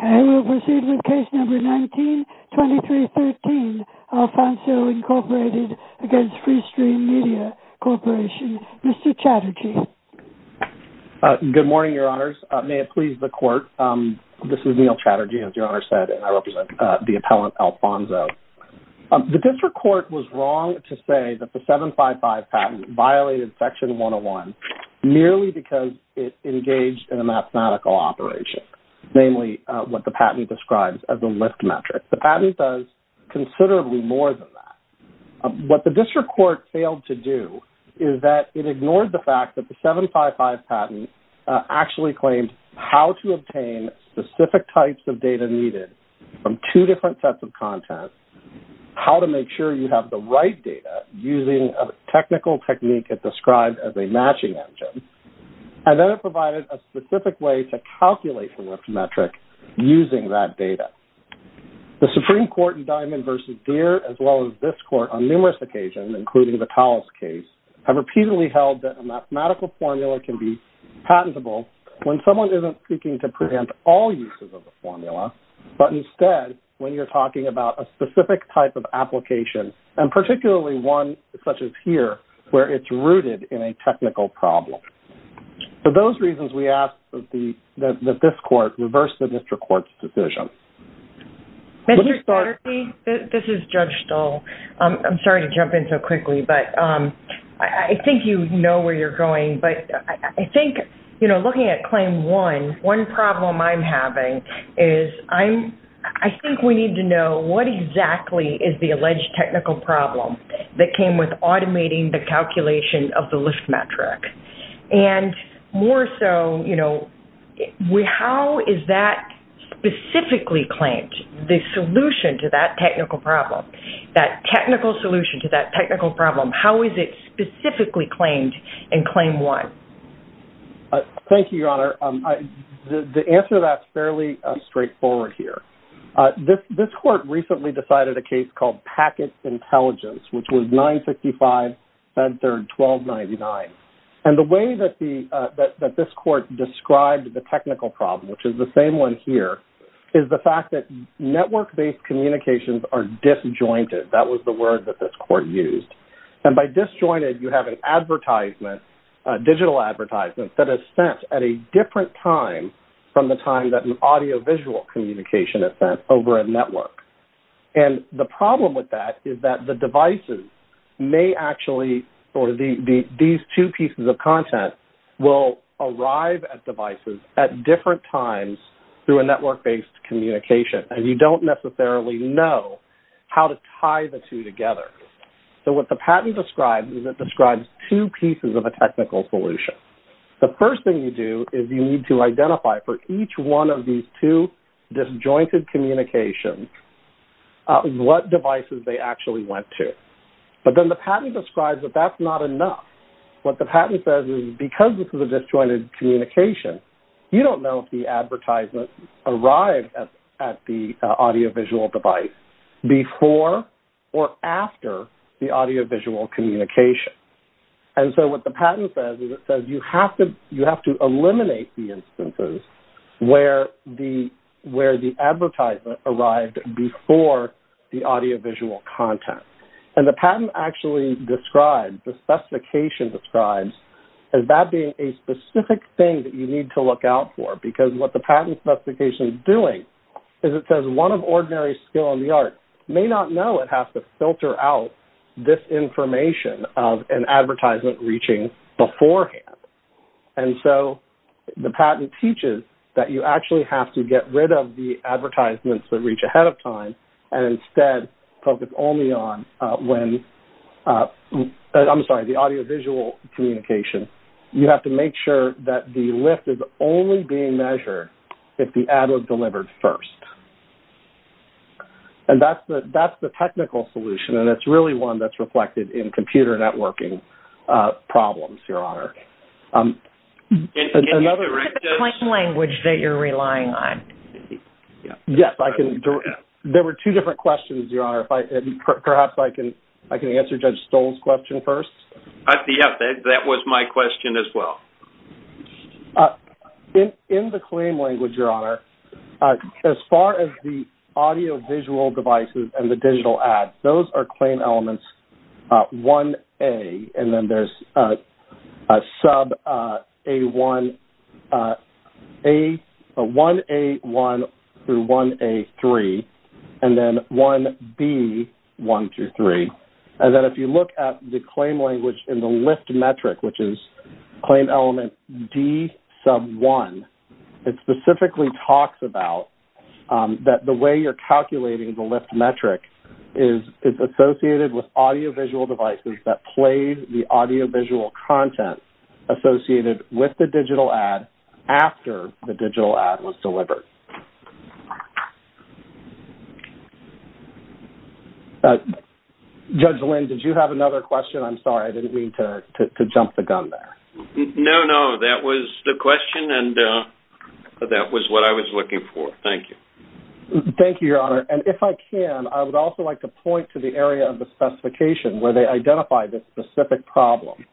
I will proceed with Case No. 19-2313, Alphonso Inc. v. Free Stream Media Corp. Mr. Chatterjee. Good morning, Your Honors. May it please the Court. This is Neil Chatterjee, as Your Honor said, and I represent the appellant, Alphonso. The District Court was wrong to say that the 755 patent violated Section 101 merely because it engaged in a mathematical operation, namely what the patent describes as a lift metric. The patent does considerably more than that. What the District Court failed to do is that it ignored the fact that the 755 patent actually claimed how to obtain specific types of data needed from two different sets of content, how to make sure you have the right data using a technical technique it described as a matching engine, and then it provided a specific way to calculate the lift metric using that data. The Supreme Court in Diamond v. Deere, as well as this Court on numerous occasions, including the Collis case, have repeatedly held that a mathematical formula can be patentable when someone isn't seeking to prevent all uses of the formula, but instead when you're talking about a specific type of application, and particularly one such as here where it's rooted in a technical problem. For those reasons, we ask that this Court reverse the District Court's decision. Mr. Chatterjee, this is Judge Stoll. I'm sorry to jump in so quickly, but I think you know where you're going, but I think looking at Claim 1, one problem I'm having is I think we need to know what exactly is the alleged technical problem that came with automating the calculation of the lift metric, and more so how is that specifically claimed, the solution to that technical problem, that technical solution to that technical problem, how is it specifically claimed in Claim 1? Thank you, Your Honor. The answer to that is fairly straightforward here. This Court recently decided a case called Packet Intelligence, which was 955-1299. And the way that this Court described the technical problem, which is the same one here, is the fact that network-based communications are disjointed. That was the word that this Court used. And by disjointed, you have an advertisement, a digital advertisement, that is sent at a different time from the time that an audiovisual communication is sent over a network. And the problem with that is that the devices may actually, or these two pieces of content will arrive at devices at different times through a network-based communication, and you don't necessarily know how to tie the two together. So what the patent describes is it describes two pieces of a technical solution. The first thing you do is you need to identify for each one of these two disjointed communications what devices they actually went to. But then the patent describes that that's not enough. What the patent says is because this is a disjointed communication, you don't know if the advertisement arrived at the audiovisual device before or after the audiovisual communication. And so what the patent says is it says you have to eliminate the instances where the advertisement arrived before the audiovisual content. And the patent actually describes, the specification describes, as that being a specific thing that you need to look out for, because what the patent specification is doing is it says one of ordinary skill in the art may not know it has to filter out this information of an advertisement reaching beforehand. And so the patent teaches that you actually have to get rid of the advertisements that reach ahead of time and instead focus only on when, I'm sorry, the audiovisual communication. You have to make sure that the lift is only being measured if the ad was delivered first. And that's the technical solution, and it's really one that's reflected in computer networking problems, Your Honor. Can you direct us to the claim language that you're relying on? Yes, I can. There were two different questions, Your Honor. Perhaps I can answer Judge Stoll's question first. Yes, that was my question as well. In the claim language, Your Honor, as far as the audiovisual devices and the digital ads, those are claim elements 1A, and then there's 1A1 through 1A3, and then 1B123. And then if you look at the claim language in the lift metric, which is claim element D sub 1, it specifically talks about that the way you're calculating the lift metric is associated with audiovisual devices that played the audiovisual content associated with the digital ad after the digital ad was delivered. Judge Lynn, did you have another question? I'm sorry, I didn't mean to jump the gun there. No, no. That was the question, and that was what I was looking for. Thank you. Thank you, Your Honor. And if I can, I would also like to point to the area of the specification where they identify this specific problem.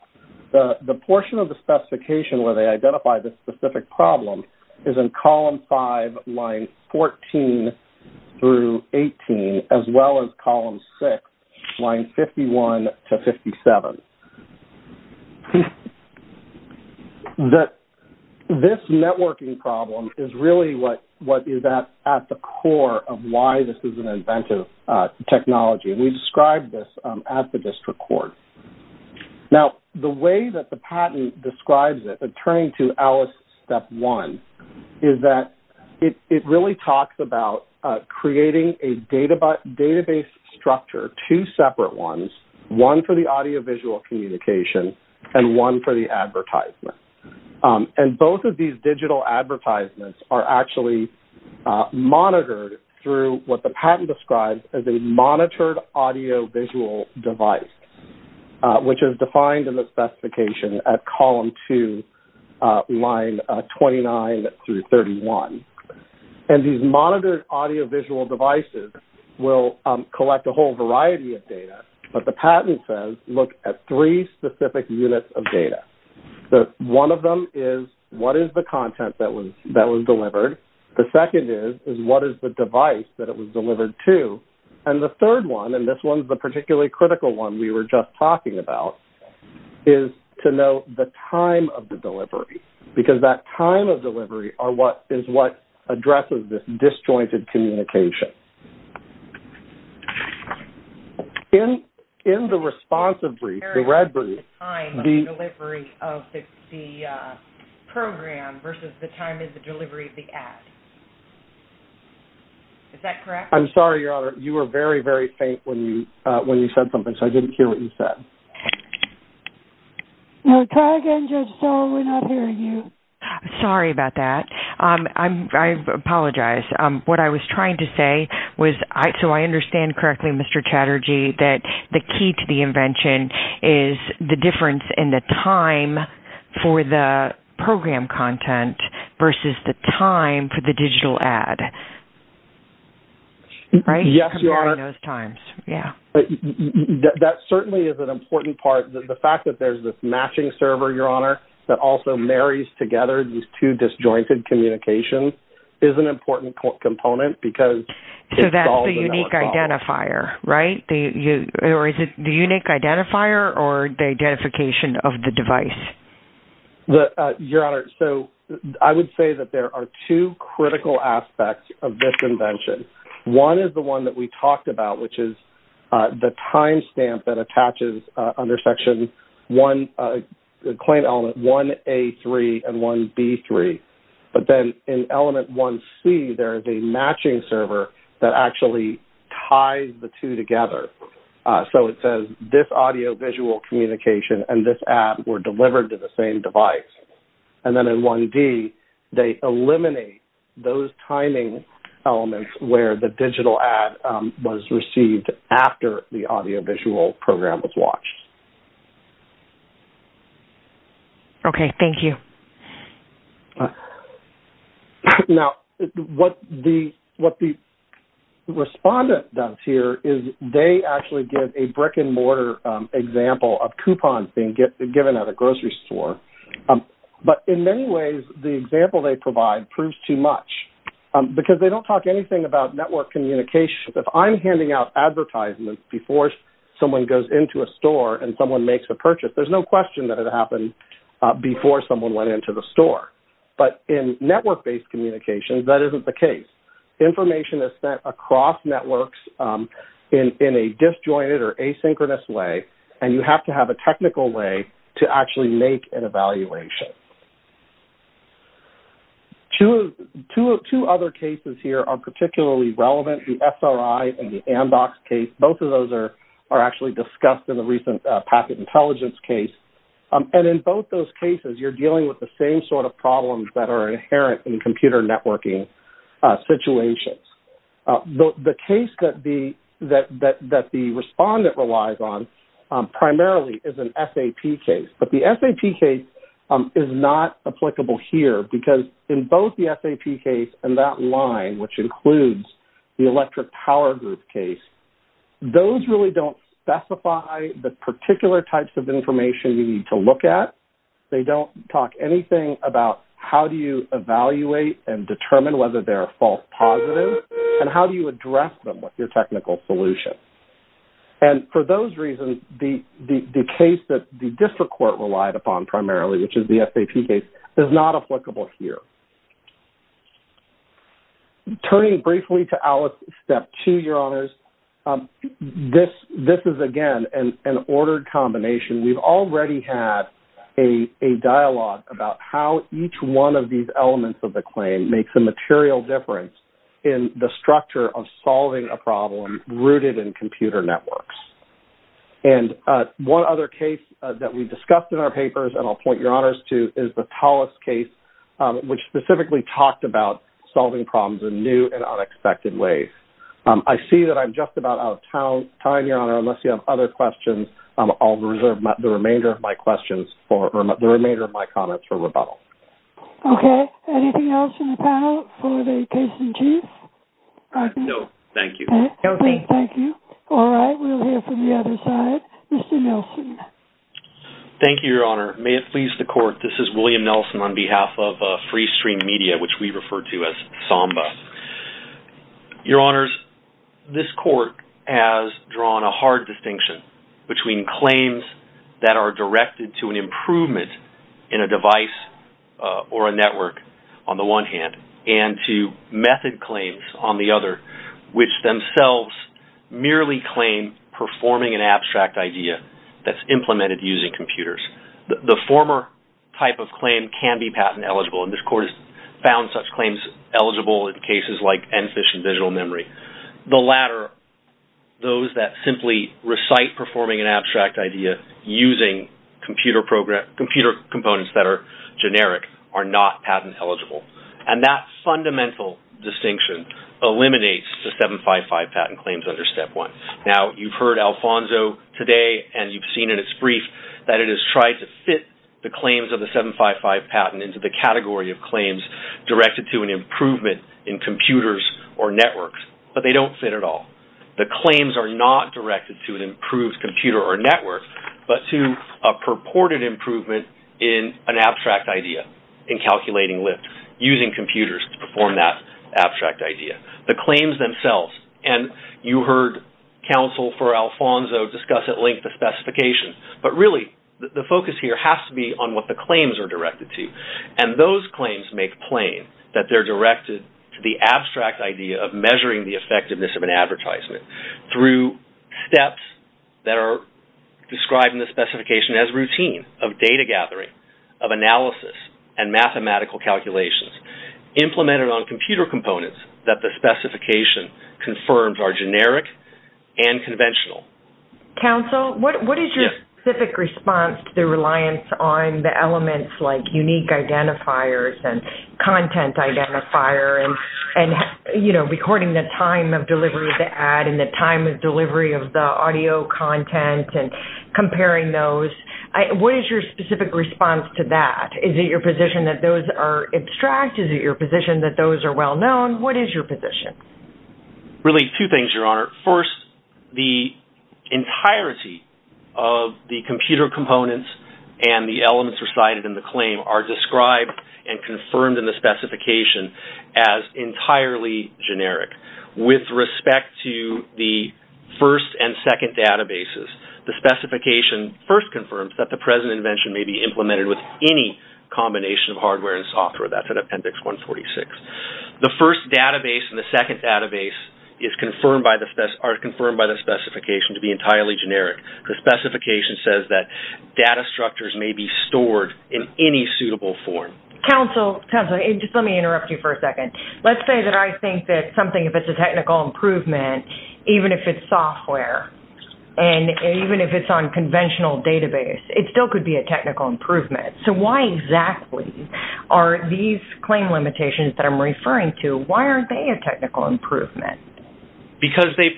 The portion of the specification where they identify this specific problem is in column 5, lines 14 through 18, as well as column 6, lines 51 to 57. This networking problem is really what is at the core of why this is an inventive technology, and we described this at the district court. Now, the way that the patent describes it, returning to Alice's step one, is that it really talks about creating a database structure, two separate ones, one for the audiovisual communication and one for the advertisement. And both of these digital advertisements are actually monitored through what the patent describes as a monitored audiovisual device, which is defined in the specification at column 2, line 29 through 31. And these monitored audiovisual devices will collect a whole variety of data, but the patent says look at three specific units of data. One of them is what is the content that was delivered. The second is what is the device that it was delivered to. And the third one, and this one is the particularly critical one we were just talking about, is to know the time of the delivery, because that time of delivery is what addresses this disjointed communication. In the responsive brief, the red brief. The time of delivery of the program versus the time of the delivery of the ad. Is that correct? I'm sorry, Your Honor. You were very, very faint when you said something, so I didn't hear what you said. Try again, Judge Stone. We're not hearing you. Sorry about that. I apologize. What I was trying to say was, so I understand correctly, Mr. Chatterjee, that the key to the invention is the difference in the time for the program content versus the time for the digital ad. Right? Yes, Your Honor. Comparing those times. Yeah. That certainly is an important part. The fact that there's this matching server, Your Honor, that also marries together these two disjointed communications, is an important component because it solves a network problem. So that's the unique identifier, right? Or is it the unique identifier or the identification of the device? Your Honor, so I would say that there are two critical aspects of this invention. One is the one that we talked about, which is the time stamp that attaches under Section 1, the claim element 1A3 and 1B3. But then in element 1C, there is a matching server that actually ties the two together. So it says, this audio-visual communication and this ad were delivered to the same device. And then in 1D, they eliminate those timing elements where the digital ad was received after the audio-visual program was watched. Okay. Thank you. Now, what the respondent does here is they actually get a brick-and-mortar example of coupons being given at a grocery store. But in many ways, the example they provide proves too much because they don't talk anything about network communications. If I'm handing out advertisements before someone goes into a store and someone makes a purchase, there's no question that it happened before someone went into the store. But in network-based communications, that isn't the case. Information is sent across networks in a disjointed or asynchronous way, and you have to have a technical way to actually make an evaluation. Two other cases here are particularly relevant, the SRI and the ANDOX case. Both of those are actually discussed in the recent packet intelligence case. And in both those cases, you're dealing with the same sort of problems that are inherent in computer networking situations. The case that the respondent relies on primarily is an SAP case. But the SAP case is not applicable here because in both the SAP case and that line, which includes the electric power group case, those really don't specify the particular types of information you need to look at. They don't talk anything about how do you evaluate and determine whether they're a false positive and how do you address them with your technical solution. And for those reasons, the case that the district court relied upon primarily, which is the SAP case, is not applicable here. Turning briefly to ALICE Step 2, Your Honors, this is, again, an ordered combination. We've already had a dialogue about how each one of these elements of the claim makes a material difference in the structure of solving a problem rooted in computer networks. And one other case that we discussed in our papers, and I'll point Your Honors to, is the TALIS case, which specifically talked about solving problems in new and unexpected ways. I see that I'm just about out of time, Your Honor, unless you have other questions. I'll reserve the remainder of my comments for rebuttal. Okay. Anything else in the panel for the case in chief? No, thank you. Okay, thank you. All right, we'll hear from the other side. Mr. Nelson. Thank you, Your Honor. May it please the court, this is William Nelson on behalf of Freestream Media, which we refer to as Samba. Your Honors, this court has drawn a hard distinction between claims that are directed to an improvement in a device or a network on the one hand, and to method claims on the other, which themselves merely claim performing an abstract idea that's implemented using computers. The former type of claim can be patent eligible, and this court has found such claims eligible in cases like NPHIS and digital memory. The latter, those that simply recite performing an abstract idea using computer components that are generic, are not patent eligible. And that fundamental distinction eliminates the 755 patent claims under Step 1. Now, you've heard Alfonso today and you've seen in his brief that it has tried to fit the claims of the 755 patent into the category of claims directed to an improvement in computers or networks, but they don't fit at all. The claims are not directed to an improved computer or network, but to a purported improvement in an abstract idea in calculating lift, using computers to perform that abstract idea. The claims themselves, and you heard counsel for Alfonso discuss at length the specifications, but really the focus here has to be on what the claims are directed to. And those claims make plain that they're directed to the abstract idea of measuring the effectiveness of an advertisement through steps that are described in the specification as routine, of data gathering, of analysis, and mathematical calculations, implemented on computer components that the specification confirms are generic and conventional. Counsel, what is your specific response to the reliance on the elements like unique identifiers and content identifier and, you know, recording the time of delivery of the ad and the time of delivery of the audio content and comparing those? What is your specific response to that? Is it your position that those are abstract? Is it your position that those are well-known? What is your position? Really, two things, Your Honor. First, the entirety of the computer components and the elements recited in the claim are described and confirmed in the specification as entirely generic. With respect to the first and second databases, the specification first confirms that the present invention may be implemented with any combination of hardware and software. That's at Appendix 146. The first database and the second database are confirmed by the specification to be entirely generic. The specification says that data structures may be stored in any suitable form. Counsel, just let me interrupt you for a second. Let's say that I think that something, if it's a technical improvement, even if it's software, and even if it's on conventional database, it still could be a technical improvement. So why exactly are these claim limitations that I'm referring to, why aren't they a technical improvement? Because they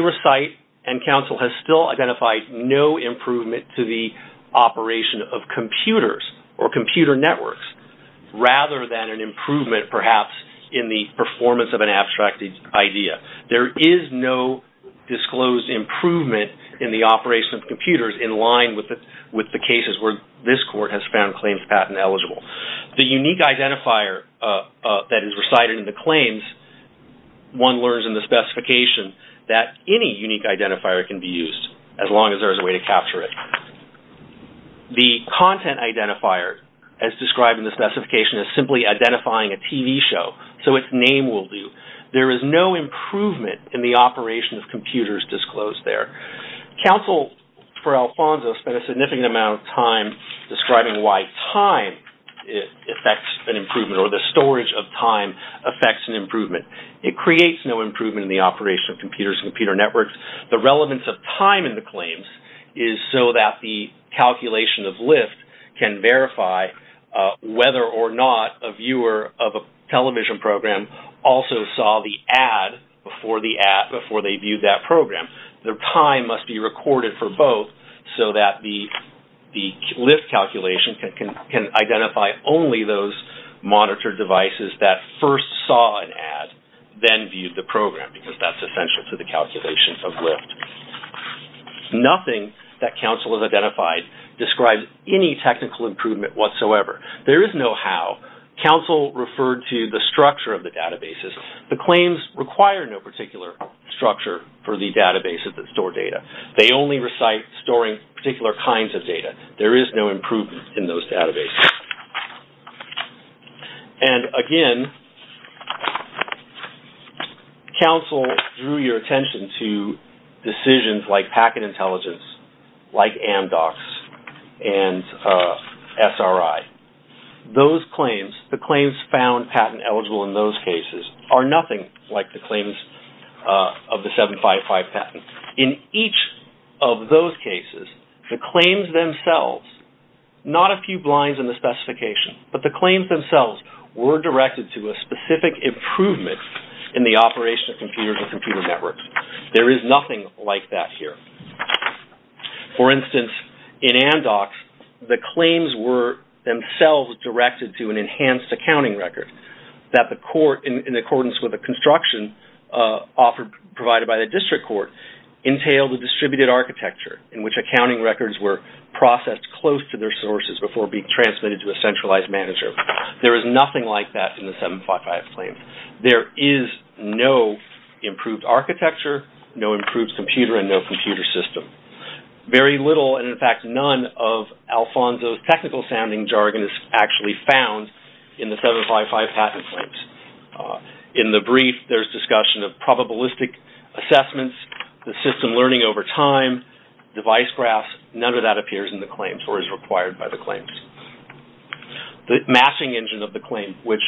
recite and counsel has still identified no improvement to the operation of computers or computer networks rather than an improvement perhaps in the performance of an abstract idea. There is no disclosed improvement in the operation of computers in line with the cases where this court has found claims patent eligible. The unique identifier that is recited in the claims, one learns in the specification, that any unique identifier can be used as long as there is a way to capture it. The content identifier, as described in the specification, is simply identifying a TV show. So its name will do. There is no improvement in the operation of computers disclosed there. Counsel for Alfonso spent a significant amount of time describing why time affects an improvement or the storage of time affects an improvement. It creates no improvement in the operation of computers and computer networks. The relevance of time in the claims is so that the calculation of lift can verify whether or not a viewer of a television program also saw the ad before they viewed that program. Their time must be recorded for both so that the lift calculation can identify only those monitored devices that first saw an ad, then viewed the program because that's essential to the calculation of lift. Nothing that counsel has identified describes any technical improvement whatsoever. There is no how. Counsel referred to the structure of the databases. The claims require no particular structure for the databases that store data. They only recite storing particular kinds of data. There is no improvement in those databases. Again, counsel drew your attention to decisions like packet intelligence, like Amdocs and SRI. The claims found patent eligible in those cases are nothing like the claims of the 755 patent. In each of those cases, the claims themselves, not a few blinds in the specification, but the claims themselves were directed to a specific improvement in the operation of computers and computer networks. There is nothing like that here. For instance, in Amdocs, the claims were themselves directed to an enhanced accounting record that the court, in accordance with the construction provided by the district court, entailed a distributed architecture in which accounting records were processed close to their sources before being transmitted to a centralized manager. There is nothing like that in the 755 claims. There is no improved architecture, no improved computer, and no computer system. Very little, and in fact none, of Alfonso's technical sounding jargon is actually found in the 755 patent claims. In the brief, there is discussion of probabilistic assessments, the system learning over time, device graphs. None of that appears in the claims or is required by the claims. The matching engine of the claim, which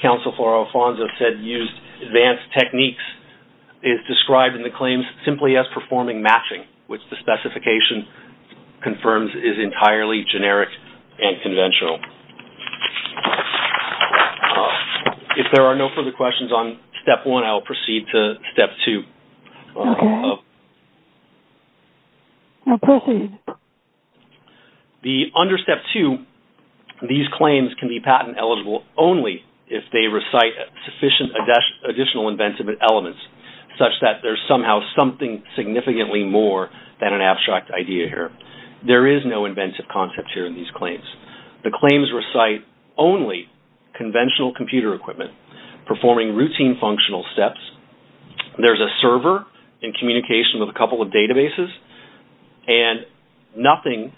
counsel for Alfonso said used advanced techniques, is described in the claims simply as performing matching, which the specification confirms is entirely generic and conventional. If there are no further questions on Step 1, I will proceed to Step 2. Okay. I'll proceed. Under Step 2, these claims can be patent eligible only if they recite sufficient additional inventive elements, such that there is somehow something significantly more than an abstract idea here. There is no inventive concept here in these claims. The claims recite only conventional computer equipment performing routine functional steps. There is a server in communication with a couple of databases, and nothing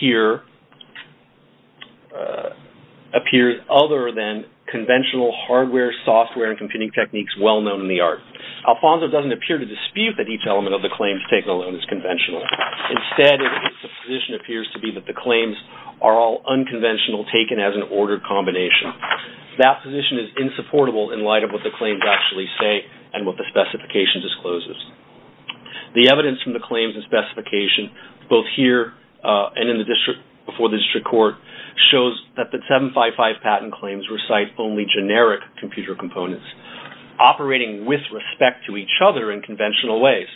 here appears other than conventional hardware, software, and computing techniques well known in the art. Alfonso doesn't appear to dispute that each element of the claims taken alone is conventional. Instead, the position appears to be that the claims are all unconventional taken as an ordered combination. That position is insupportable in light of what the claims actually say and what the specification discloses. The evidence from the claims and specification, both here and before the district court, shows that the 755 patent claims recite only generic computer components operating with respect to each other in conventional ways,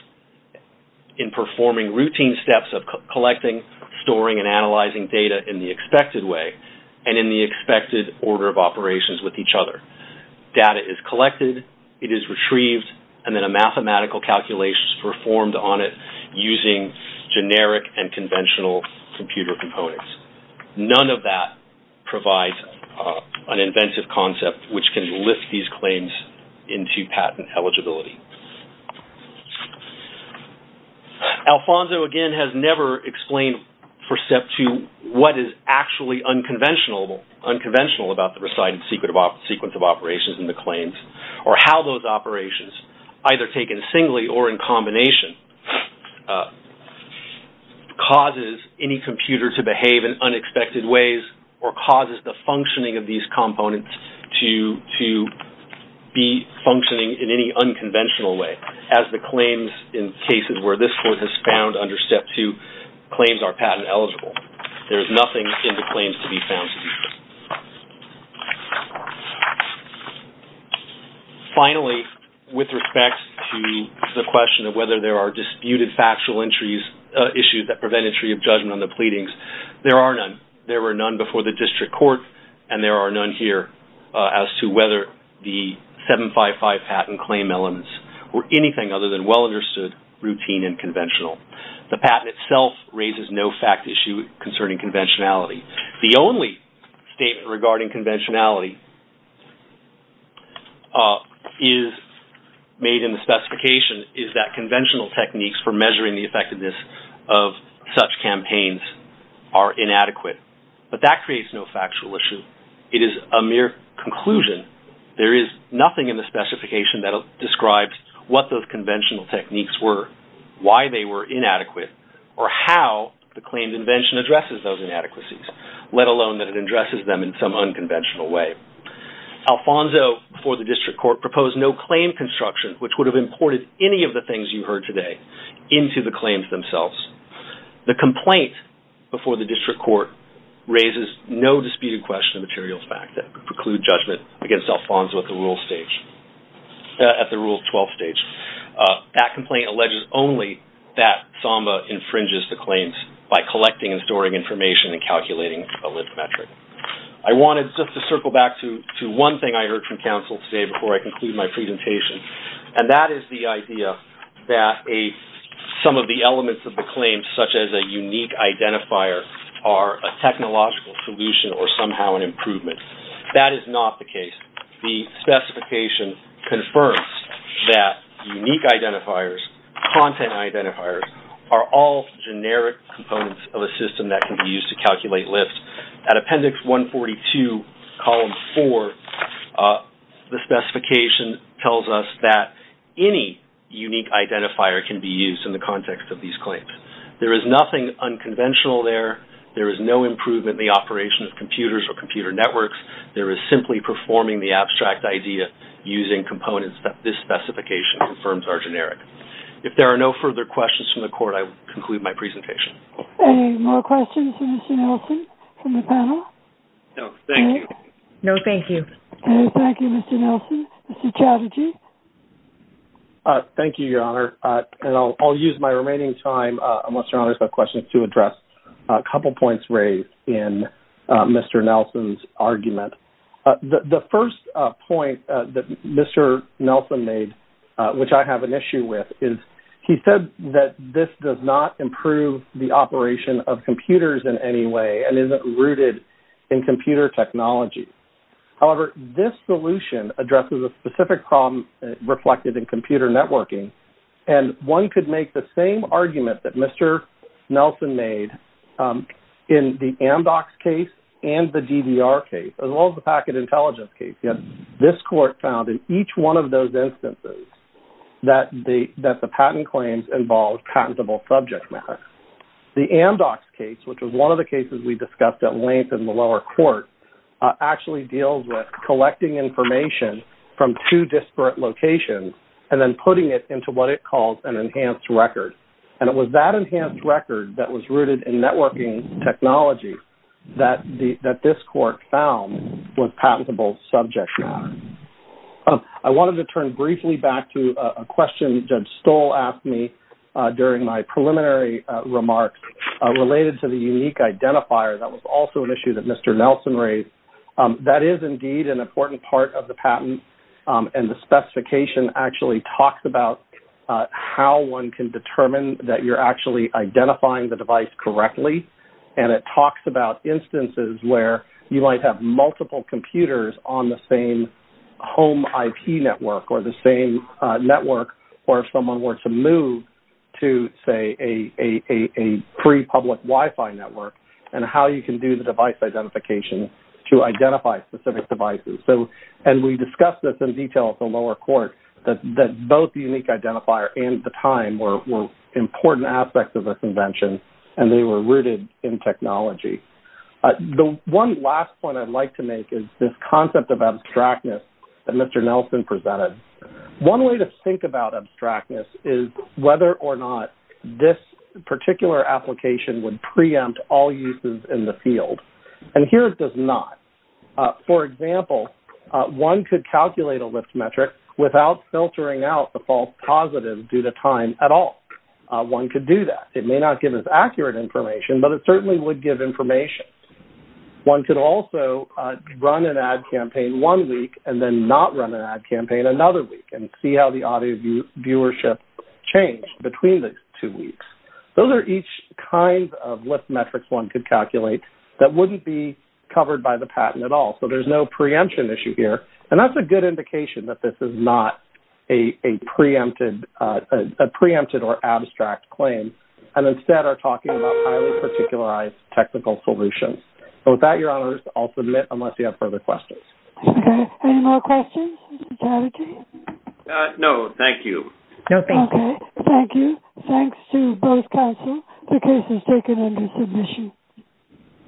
in performing routine steps of collecting, storing, and analyzing data in the expected way and in the expected order of operations with each other. Data is collected, it is retrieved, and then a mathematical calculation is performed on it using generic and conventional computer components. None of that provides an inventive concept which can lift these claims into patent eligibility. Alfonso, again, has never explained what is actually unconventional about the recited sequence of operations in the claims, or how those operations, either taken singly or in combination, causes any computer to behave in unexpected ways or causes the functioning of these components to be functioning in any unconventional way, as the claims in cases where this court has found under Step 2 claims are patent eligible. There is nothing in the claims to be found to be true. Finally, with respect to the question of whether there are disputed factual issues that prevent entry of judgment on the pleadings, there are none. There were none before the district court and there are none here as to whether the 755 patent claim elements were anything other than well understood, routine, and conventional. The patent itself raises no fact issue concerning conventionality. The only statement regarding conventionality is made in the specification is that conventional techniques for measuring the effectiveness of such campaigns are inadequate. But that creates no factual issue. It is a mere conclusion. There is nothing in the specification that describes what those conventional techniques were, why they were inadequate, or how the claimed invention addresses those inadequacies, let alone that it addresses them in some unconventional way. Alfonso, before the district court, proposed no claim construction, which would have imported any of the things you heard today, into the claims themselves. The complaint before the district court raises no disputed question of material fact that could preclude judgment against Alfonso at the Rule 12 stage. That complaint alleges only that Samba infringes the claims by collecting and storing information and calculating a lived metric. I wanted just to circle back to one thing I heard from counsel today before I conclude my presentation, and that is the idea that some of the elements of the claim, such as a unique identifier, are a technological solution or somehow an improvement. That is not the case. The specification confirms that unique identifiers, content identifiers, are all generic components of a system that can be used to calculate lives. At Appendix 142, Column 4, the specification tells us that any unique identifier can be used in the context of these claims. There is nothing unconventional there. There is no improvement in the operation of computers or computer networks. There is simply performing the abstract idea using components that this specification confirms are generic. If there are no further questions from the court, I will conclude my presentation. Any more questions for Mr. Nelson from the panel? No, thank you. No, thank you. No, thank you, Mr. Nelson. Mr. Chatterjee? Thank you, Your Honor. I will use my remaining time, unless Your Honor has questions, to address a couple points raised in Mr. Nelson's argument. The first point that Mr. Nelson made, which I have an issue with, is he said that this does not improve the operation of computers in any way and isn't rooted in computer technology. However, this solution addresses a specific problem reflected in computer networking, and one could make the same argument that Mr. Nelson made in the Amdocs case and the GDR case, as well as the packet intelligence case. This court found in each one of those instances that the patent claims involved patentable subject matter. The Amdocs case, which was one of the cases we discussed at length in the lower court, actually deals with collecting information from two disparate locations and then putting it into what it calls an enhanced record. It was that enhanced record that was rooted in networking technology that this court found was patentable subject matter. I wanted to turn briefly back to a question Judge Stoll asked me during my preliminary remarks related to the unique identifier that was also an issue that Mr. Nelson raised. That is indeed an important part of the patent, and the specification actually talks about how one can determine that you're actually identifying the device correctly, and it talks about instances where you might have multiple computers on the same home IP network or the same network where someone were to move to, say, a pre-public Wi-Fi network and how you can do the device identification to identify specific devices. We discussed this in detail at the lower court, that both the unique identifier and the time were important aspects of the convention, and they were rooted in technology. The one last point I'd like to make is this concept of abstractness that Mr. Nelson presented. One way to think about abstractness is whether or not this particular application would preempt all uses in the field. And here it does not. For example, one could calculate a list metric without filtering out the false positives due to time at all. One could do that. It may not give us accurate information, but it certainly would give information. One could also run an ad campaign one week and then not run an ad campaign another week and see how the audio viewership changed between the two weeks. Those are each kind of list metrics one could calculate that wouldn't be covered by the patent at all. So there's no preemption issue here, and that's a good indication that this is not a preempted or abstract claim and instead are talking about highly particularized technical solutions. So with that, Your Honors, I'll submit unless you have further questions. Okay. Any more questions? Mr. Tafferty? No, thank you. No, thank you. Okay. Thank you. Thanks to both counsel. The case is taken under submission.